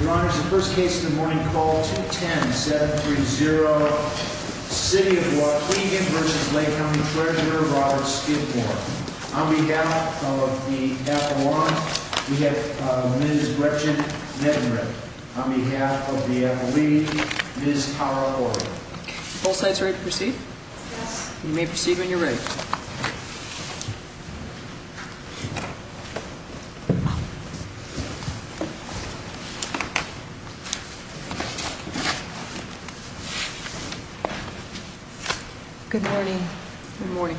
Your Honor, this is the first case of the morning. Call 210-730, City of Waukegan v. Lake County Treasurer, Robert Skidmore. On behalf of the appellant, we have Ms. Gretchen Mettenredt. On behalf of the appellee, Ms. Tara Porter. Both sides ready to proceed? Yes. You may proceed when you're ready. Good morning. Good morning.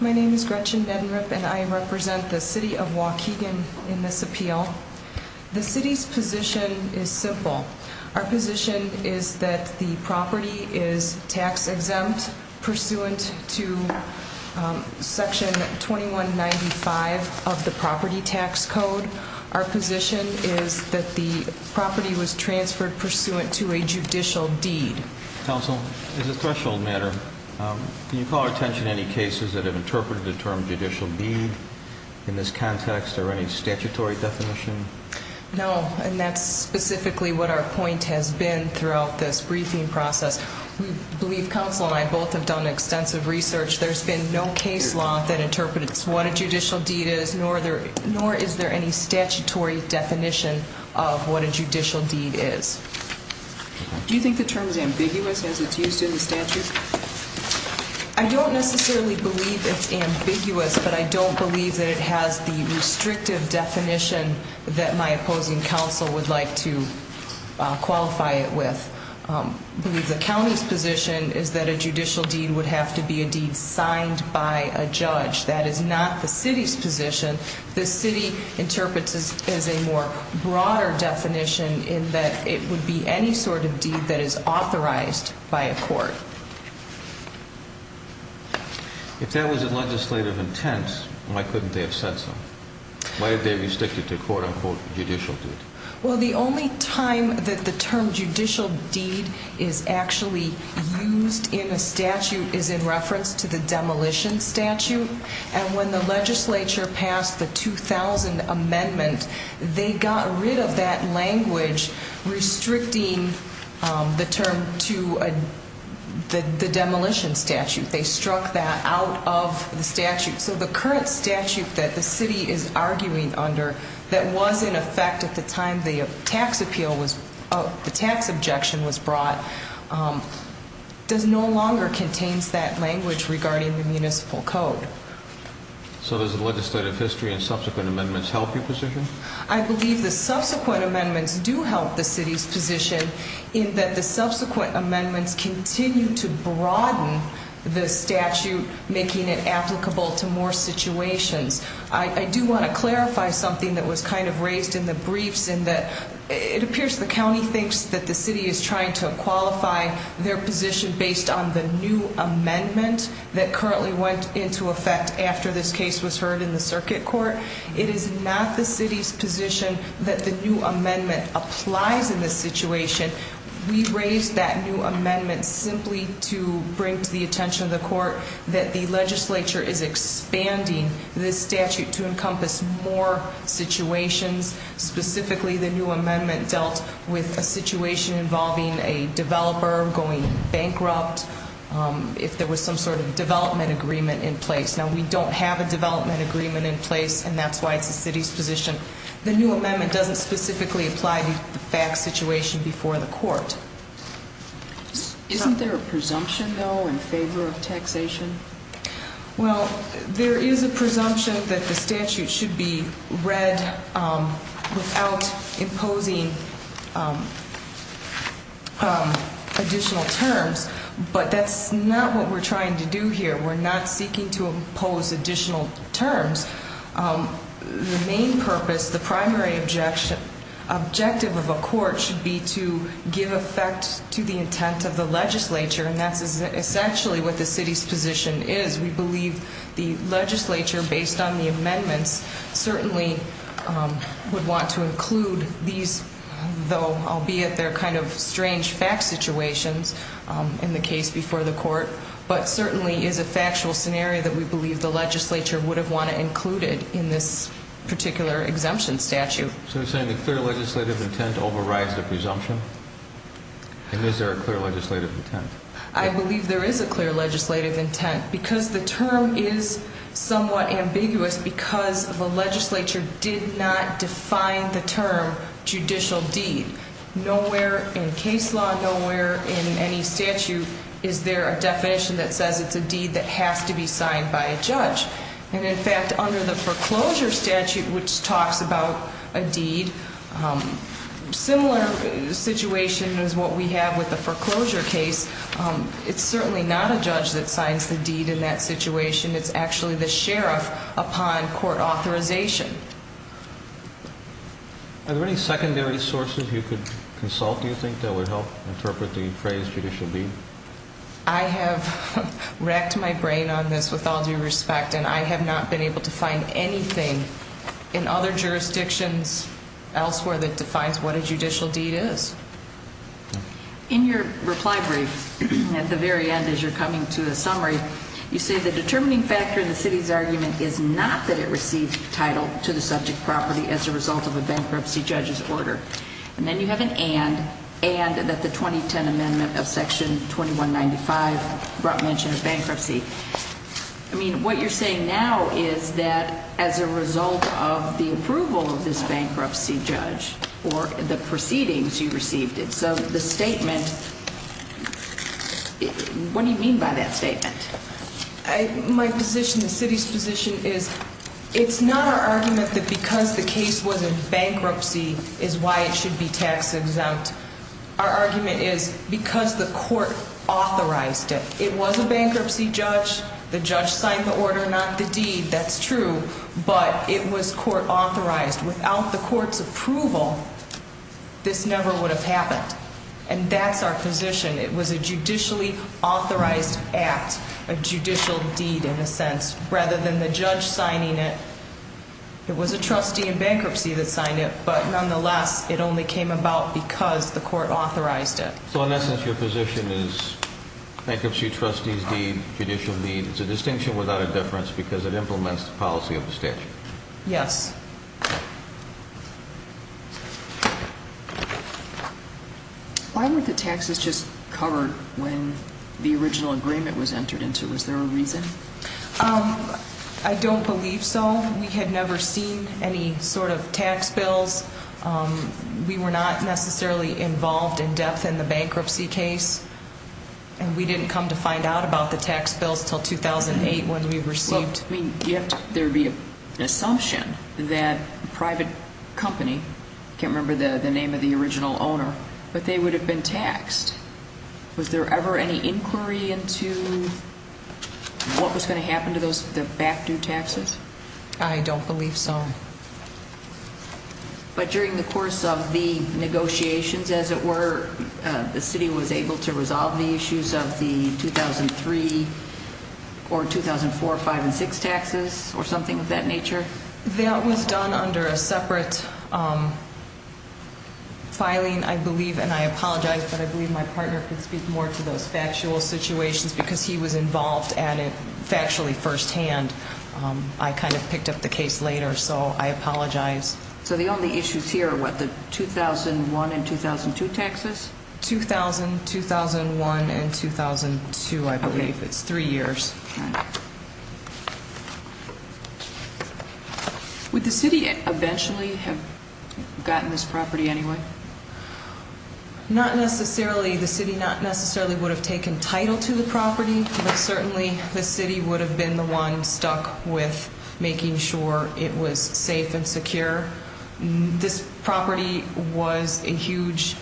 My name is Gretchen Mettenredt and I represent the City of Waukegan in this appeal. The City's position is simple. Our position is that the property is tax-exempt pursuant to Section 2195 of the Property Tax Code. Our position is that the property was transferred pursuant to a judicial deed. Counsel, as a threshold matter, can you call our attention to any cases that have interpreted the term judicial deed in this context or any statutory definition? No, and that's specifically what our point has been throughout this briefing process. We believe counsel and I both have done extensive research. There's been no case law that interprets what a judicial deed is, nor is there any statutory definition of what a judicial deed is. Do you think the term is ambiguous as it's used in the statute? I don't necessarily believe it's ambiguous, but I don't believe that it has the restrictive definition that my opposing counsel would like to qualify it with. The county's position is that a judicial deed would have to be a deed signed by a judge. That is not the City's position. The City interprets it as a more broader definition in that it would be any sort of deed that is authorized by a court. If that was a legislative intent, why couldn't they have said so? Why are they restricted to a quote-unquote judicial deed? Well, the only time that the term judicial deed is actually used in a statute is in reference to the demolition statute. And when the legislature passed the 2000 amendment, they got rid of that language restricting the term to the demolition statute. They struck that out of the statute. So the current statute that the City is arguing under, that was in effect at the time the tax objection was brought, no longer contains that language regarding the municipal code. So does the legislative history and subsequent amendments help your position? I believe the subsequent amendments do help the City's position in that the subsequent amendments continue to broaden the statute, making it applicable to more situations. I do want to clarify something that was kind of raised in the briefs in that it appears the county thinks that the City is trying to qualify their position based on the new amendment that currently went into effect after this case was heard in the circuit court. It is not the City's position that the new amendment applies in this situation. We raised that new amendment simply to bring to the attention of the court that the legislature is expanding this statute to encompass more situations. Specifically, the new amendment dealt with a situation involving a developer going bankrupt if there was some sort of development agreement in place. Now, we don't have a development agreement in place, and that's why it's the City's position. The new amendment doesn't specifically apply to the FACS situation before the court. Isn't there a presumption, though, in favor of taxation? Well, there is a presumption that the statute should be read without imposing additional terms, but that's not what we're trying to do here. We're not seeking to impose additional terms. The main purpose, the primary objective of a court should be to give effect to the intent of the legislature, and that's essentially what the City's position is. We believe the legislature, based on the amendments, certainly would want to include these, though, albeit they're kind of strange FACS situations in the case before the court, but certainly is a factual scenario that we believe the legislature would have wanted included in this particular exemption statute. So you're saying the clear legislative intent overrides the presumption? And is there a clear legislative intent? I believe there is a clear legislative intent because the term is somewhat ambiguous because the legislature did not define the term judicial deed. Nowhere in case law, nowhere in any statute is there a definition that says it's a deed that has to be signed by a judge. And in fact, under the foreclosure statute, which talks about a deed, similar situation is what we have with the foreclosure case. It's certainly not a judge that signs the deed in that situation. It's actually the sheriff upon court authorization. Are there any secondary sources you could consult, do you think, that would help interpret the phrase judicial deed? I have racked my brain on this with all due respect, and I have not been able to find anything in other jurisdictions elsewhere that defines what a judicial deed is. In your reply brief, at the very end as you're coming to a summary, you say the determining factor in the city's argument is not that it received title to the subject property as a result of a bankruptcy judge's order. And then you have an and, and that the 2010 amendment of section 2195 brought mention of bankruptcy. I mean, what you're saying now is that as a result of the approval of this bankruptcy judge or the proceedings, you received it. So the statement, what do you mean by that statement? My position, the city's position is it's not our argument that because the case was in bankruptcy is why it should be tax exempt. Our argument is because the court authorized it. It was a bankruptcy judge. The judge signed the order, not the deed. That's true. But it was court authorized. Without the court's approval, this never would have happened. And that's our position. It was a judicially authorized act, a judicial deed in a sense. Rather than the judge signing it, it was a trustee in bankruptcy that signed it. But nonetheless, it only came about because the court authorized it. So in essence, your position is bankruptcy trustee's deed, judicial deed, it's a distinction without a difference because it implements the policy of the statute. Yes. Why weren't the taxes just covered when the original agreement was entered into? Was there a reason? I don't believe so. We had never seen any sort of tax bills. We were not necessarily involved in depth in the bankruptcy case. And we didn't come to find out about the tax bills until 2008 when we received. There would be an assumption that a private company, I can't remember the name of the original owner, but they would have been taxed. Was there ever any inquiry into what was going to happen to the back-due taxes? I don't believe so. But during the course of the negotiations, as it were, the city was able to resolve the issues of the 2003 or 2004 5 and 6 taxes or something of that nature? That was done under a separate filing, I believe, and I apologize, but I believe my partner could speak more to those factual situations because he was involved at it factually firsthand. I kind of picked up the case later, so I apologize. So the only issues here are, what, the 2001 and 2002 taxes? 2000, 2001, and 2002, I believe. It's three years. All right. Would the city eventually have gotten this property anyway? Not necessarily. The city not necessarily would have taken title to the property, but certainly the city would have been the one stuck with making sure it was safe and secure. This property was a huge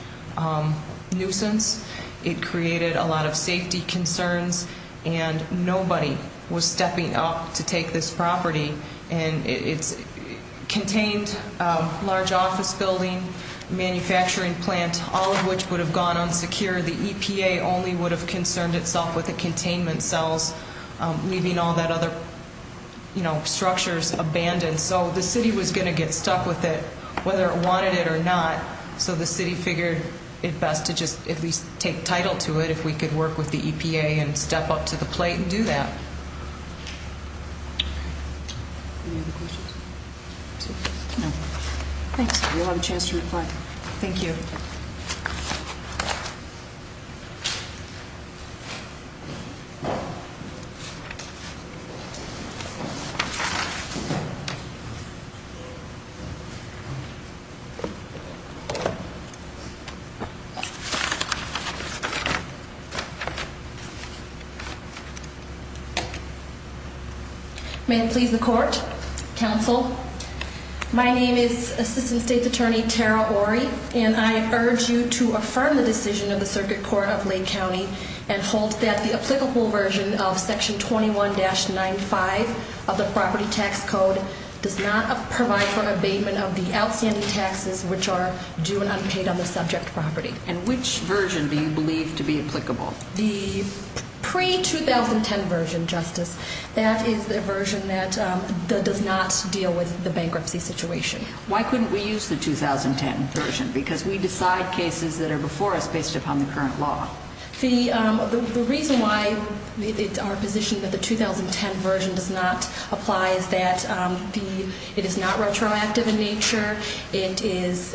nuisance. It created a lot of safety concerns, and nobody was stepping up to take this property. And it contained a large office building, manufacturing plant, all of which would have gone unsecure. The EPA only would have concerned itself with the containment cells, leaving all that other, you know, structures abandoned. So the city was going to get stuck with it, whether it wanted it or not. So the city figured it best to just at least take title to it if we could work with the EPA and step up to the plate and do that. Any other questions? No. Thanks. You'll have a chance to reply. Thank you. May it please the court. Counsel. My name is Assistant State's Attorney Tara Ory, and I urge you to affirm the decision of the Circuit Court of Lake County and hold that the applicable version of Section 21-95 of the Property Tax Code does not provide for abatement of the outstanding taxes which are due to the property. And which version do you believe to be applicable? The pre-2010 version, Justice. That is the version that does not deal with the bankruptcy situation. Why couldn't we use the 2010 version? Because we decide cases that are before us based upon the current law. The reason why our position that the 2010 version does not apply is that it is not retroactive in nature. It is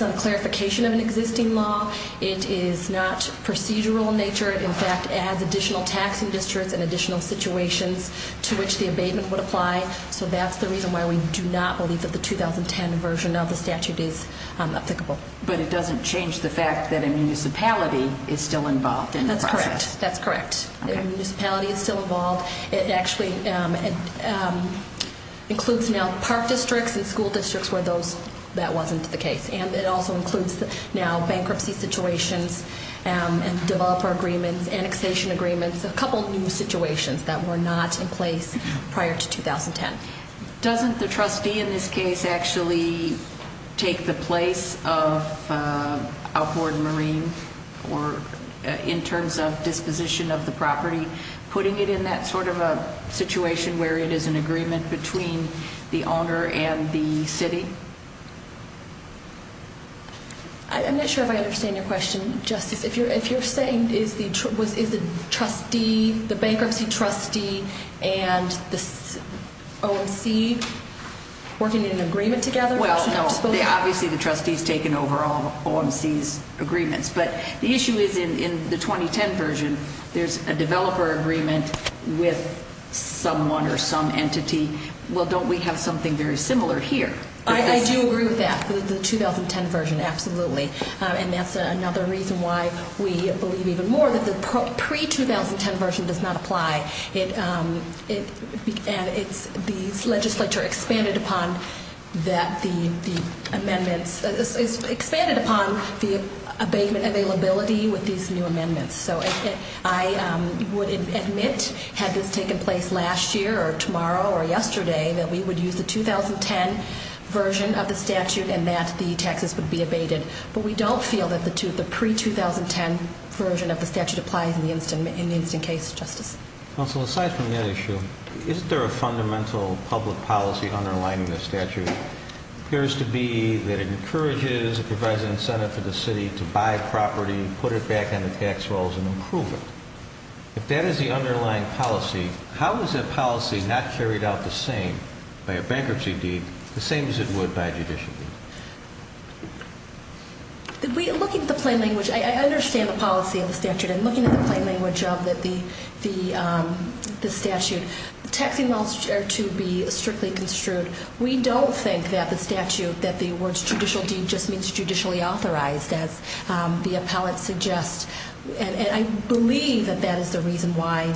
not a clarification of an existing law. It is not procedural in nature. In fact, it adds additional taxing districts and additional situations to which the abatement would apply. So that's the reason why we do not believe that the 2010 version of the statute is applicable. But it doesn't change the fact that a municipality is still involved in the process. That's correct. That's correct. A municipality is still involved. It actually includes now park districts and school districts where that wasn't the case. And it also includes now bankruptcy situations and developer agreements, annexation agreements, a couple new situations that were not in place prior to 2010. Doesn't the trustee in this case actually take the place of outboard marine in terms of disposition of the property, putting it in that sort of a situation where it is an agreement between the owner and the city? I'm not sure if I understand your question, Justice. If you're saying is the trustee, the bankruptcy trustee, and the OMC working in an agreement together? Well, no. Obviously the trustee has taken over all of OMC's agreements. But the issue is in the 2010 version, there's a developer agreement with someone or some entity. Well, don't we have something very similar here? I do agree with that, the 2010 version, absolutely. And that's another reason why we believe even more that the pre-2010 version does not apply. And the legislature expanded upon the amendments, expanded upon the abatement availability with these new amendments. So I would admit, had this taken place last year or tomorrow or yesterday, that we would use the 2010 version of the statute and that the taxes would be abated. But we don't feel that the pre-2010 version of the statute applies in the instant case, Justice. Counsel, aside from that issue, isn't there a fundamental public policy underlying this statute? It appears to be that it encourages, it provides an incentive for the city to buy property, put it back on the tax rolls, and improve it. If that is the underlying policy, how is that policy not carried out the same by a bankruptcy deed, the same as it would by a judicial deed? Looking at the plain language, I understand the policy of the statute. I'm looking at the plain language of the statute. Taxing laws are to be strictly construed. We don't think that the statute, that the words judicial deed just means judicially authorized, as the appellate suggests. And I believe that that is the reason why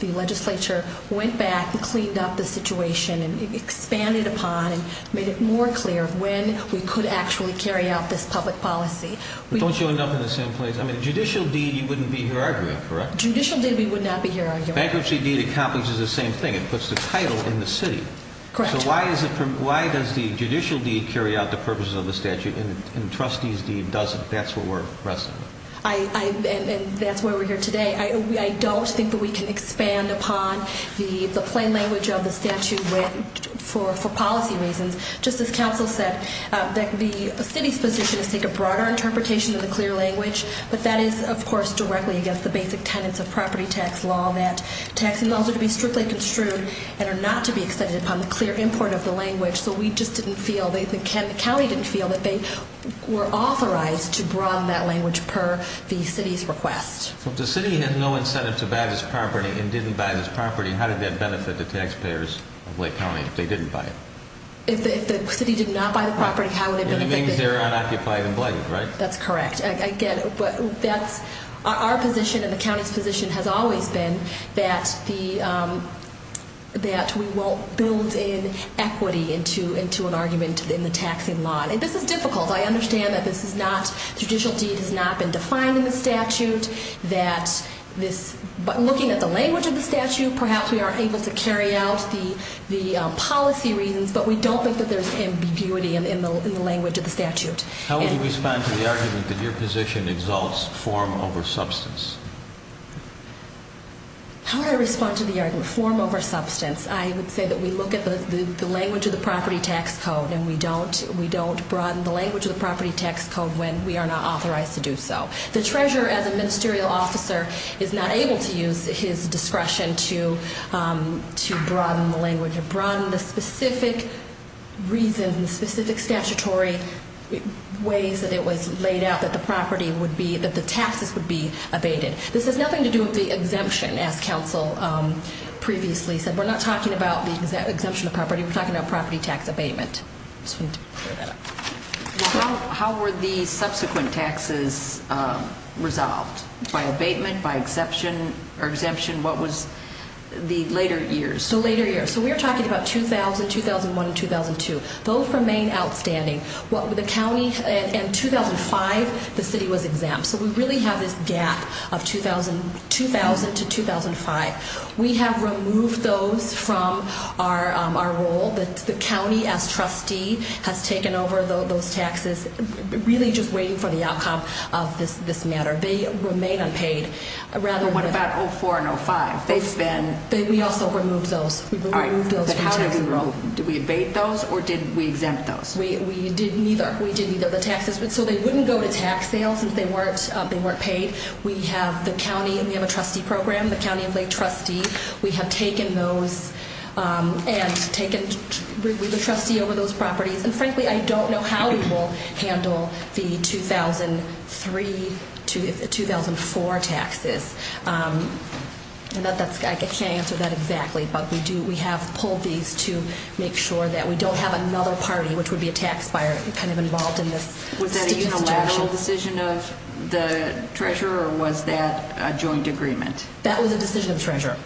the legislature went back and cleaned up the situation and expanded upon and made it more clear when we could actually carry out this public policy. But don't you end up in the same place? I mean, judicial deed, you wouldn't be here arguing, correct? Judicial deed, we would not be here arguing. Bankruptcy deed accomplishes the same thing. It puts the title in the city. Correct. So why does the judicial deed carry out the purposes of the statute and the trustee's deed doesn't? That's what we're wrestling with. And that's why we're here today. I don't think that we can expand upon the plain language of the statute for policy reasons. Just as counsel said, the city's position is to take a broader interpretation of the clear language, but that is, of course, directly against the basic tenets of property tax law, that tax laws are to be strictly construed and are not to be extended upon the clear import of the language. So we just didn't feel, the county didn't feel that they were authorized to broaden that language per the city's request. So if the city had no incentive to buy this property and didn't buy this property, how did that benefit the taxpayers of Lake County if they didn't buy it? If the city did not buy the property, how would it benefit the city? It means they're unoccupied and blighted, right? That's correct. Our position and the county's position has always been that we won't build in equity into an argument in the taxing law. This is difficult. I understand that the judicial deed has not been defined in the statute. But looking at the language of the statute, perhaps we are able to carry out the policy reasons, but we don't think that there's ambiguity in the language of the statute. How would you respond to the argument that your position exalts form over substance? How would I respond to the argument form over substance? I would say that we look at the language of the property tax code and we don't broaden the language of the property tax code when we are not authorized to do so. The treasurer, as a ministerial officer, is not able to use his discretion to broaden the language, to broaden the specific reasons, specific statutory ways that it was laid out that the property would be, that the taxes would be abated. This has nothing to do with the exemption, as counsel previously said. We're not talking about the exemption of property. We're talking about property tax abatement. How were the subsequent taxes resolved? By abatement, by exemption? What was the later years? Later years. We're talking about 2000, 2001, and 2002. Both remain outstanding. In 2005, the city was exempt, so we really have this gap of 2000 to 2005. We have removed those from our role. The county, as trustee, has taken over those taxes, really just waiting for the outcome of this matter. They remain unpaid. What about 2004 and 2005? We also removed those. How did we remove them? Did we abate those, or did we exempt those? We did neither. We did neither of the taxes, so they wouldn't go to tax sale since they weren't paid. We have the county, and we have a trustee program, the county of Lake Trustee. We have taken those and taken the trustee over those properties. Frankly, I don't know how we will handle the 2003 to 2004 taxes. I can't answer that exactly, but we have pulled these to make sure that we don't have another party, which would be a tax buyer, involved in this. Was that a unilateral decision of the treasurer, or was that a joint agreement? No, sir.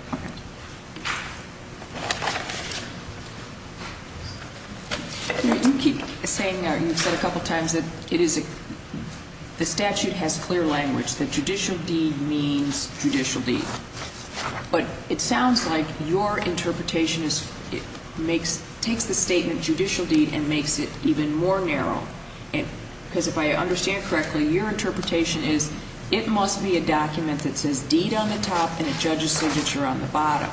You keep saying, you've said a couple times, that the statute has clear language, that judicial deed means judicial deed. But it sounds like your interpretation takes the statement judicial deed and makes it even more narrow. Because if I understand correctly, your interpretation is it must be a document that says deed on the top and a judge's signature on the bottom.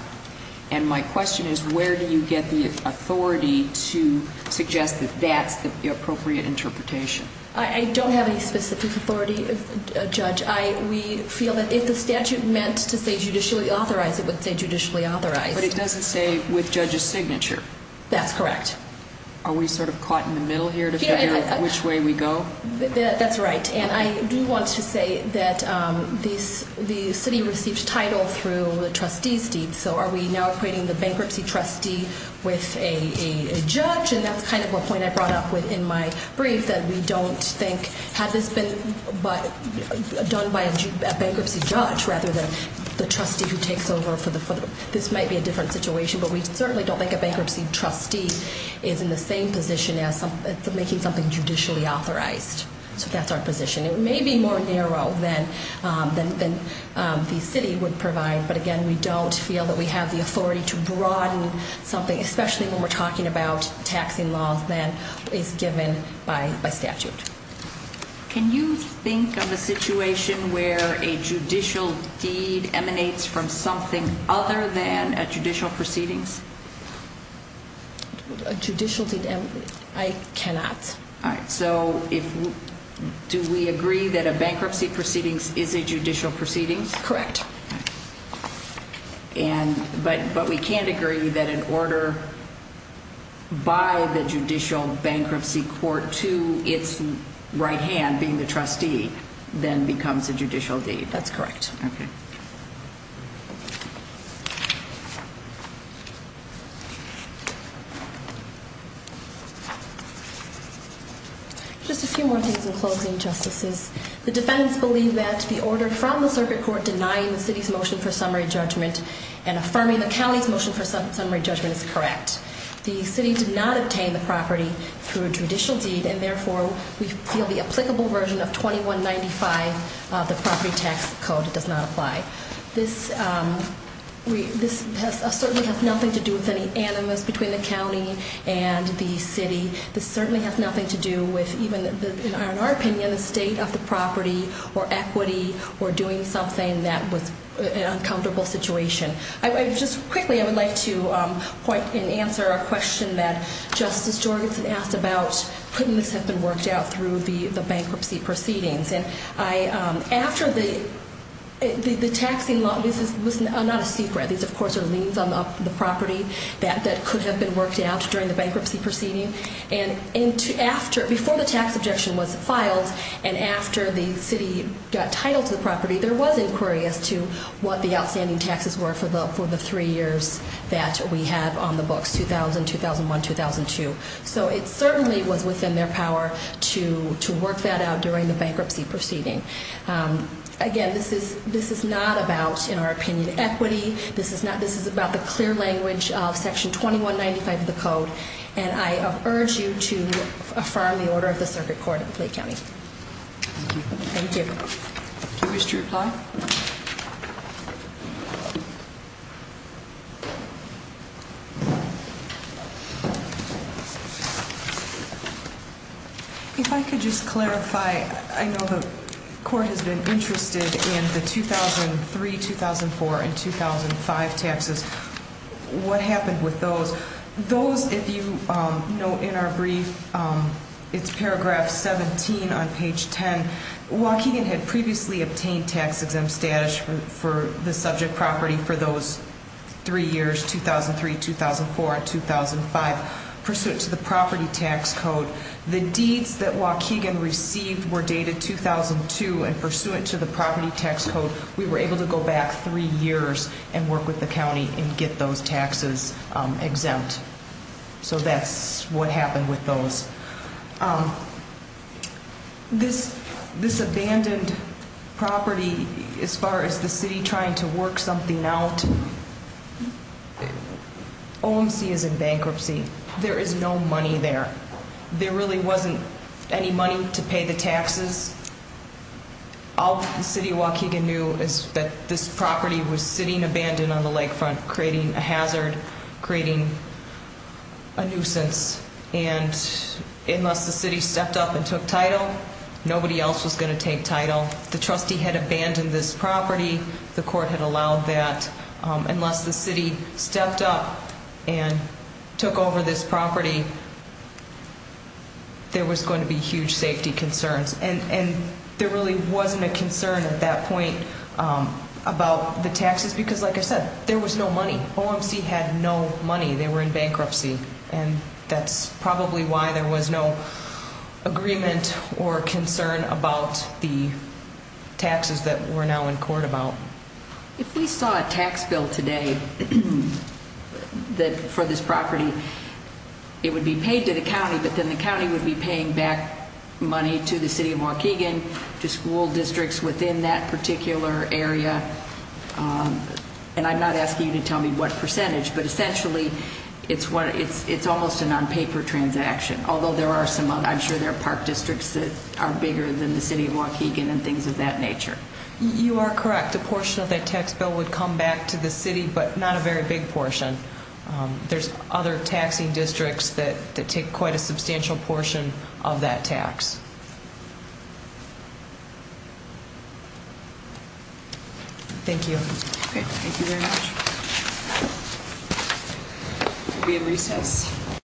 And my question is, where do you get the authority to suggest that that's the appropriate interpretation? I don't have any specific authority, Judge. We feel that if the statute meant to say judicially authorized, it would say judicially authorized. But it doesn't say with judge's signature. That's correct. Are we sort of caught in the middle here to figure out which way we go? That's right. And I do want to say that the city received title through the trustee's deed. So are we now equating the bankruptcy trustee with a judge? And that's kind of a point I brought up in my brief, that we don't think, had this been done by a bankruptcy judge rather than the trustee who takes over. This might be a different situation, but we certainly don't think a bankruptcy trustee is in the same position as making something judicially authorized. So that's our position. It may be more narrow than the city would provide. But, again, we don't feel that we have the authority to broaden something, especially when we're talking about taxing laws, than is given by statute. Can you think of a situation where a judicial deed emanates from something other than a judicial proceedings? A judicial deed emanates? I cannot. All right. So do we agree that a bankruptcy proceedings is a judicial proceedings? Correct. But we can't agree that an order by the judicial bankruptcy court to its right hand, being the trustee, then becomes a judicial deed. That's correct. Just a few more things in closing, Justices. The defendants believe that the order from the circuit court denying the city's motion for summary judgment and affirming the county's motion for summary judgment is correct. The city did not obtain the property through a judicial deed, and therefore we feel the applicable version of 2195 of the property tax code does not apply. This certainly has nothing to do with any animus between the county and the city. This certainly has nothing to do with even, in our opinion, the state of the property or equity or doing something that was an uncomfortable situation. Just quickly, I would like to point and answer a question that Justice Jorgenson asked about putting this up and worked out through the bankruptcy proceedings. After the taxing law, this is not a secret. These, of course, are liens on the property that could have been worked out during the bankruptcy proceeding. Before the tax objection was filed and after the city got title to the property, there was inquiry as to what the outstanding taxes were for the three years that we have on the books, 2000, 2001, 2002. So it certainly was within their power to work that out during the bankruptcy proceeding. Again, this is not about, in our opinion, equity. This is about the clear language of section 2195 of the code, and I urge you to affirm the order of the circuit court of Clay County. Thank you. Thank you. Do you wish to reply? If I could just clarify, I know the court has been interested in the 2003, 2004, and 2005 taxes. What happened with those? Those, if you note in our brief, it's paragraph 17 on page 10. Waukegan had previously obtained tax-exempt status for the subject property for those three years, 2003, 2004, and 2005, pursuant to the property tax code. The deeds that Waukegan received were dated 2002, and pursuant to the property tax code, we were able to go back three years and work with the county and get those taxes exempt. So that's what happened with those. This abandoned property, as far as the city trying to work something out, OMC is in bankruptcy. There is no money there. There really wasn't any money to pay the taxes. All the city of Waukegan knew is that this property was sitting abandoned on the lakefront, creating a hazard, creating a nuisance. And unless the city stepped up and took title, nobody else was going to take title. The trustee had abandoned this property. The court had allowed that. Unless the city stepped up and took over this property, there was going to be huge safety concerns. And there really wasn't a concern at that point about the taxes because, like I said, there was no money. OMC had no money. They were in bankruptcy. And that's probably why there was no agreement or concern about the taxes that we're now in court about. If we saw a tax bill today for this property, it would be paid to the county, but then the county would be paying back money to the city of Waukegan, to school districts within that particular area. And I'm not asking you to tell me what percentage, but essentially it's almost an on-paper transaction, although there are some, I'm sure there are park districts that are bigger than the city of Waukegan and things of that nature. You are correct. A portion of that tax bill would come back to the city, but not a very big portion. There's other taxing districts that take quite a substantial portion of that tax. Thank you. Thank you very much. We'll be in recess.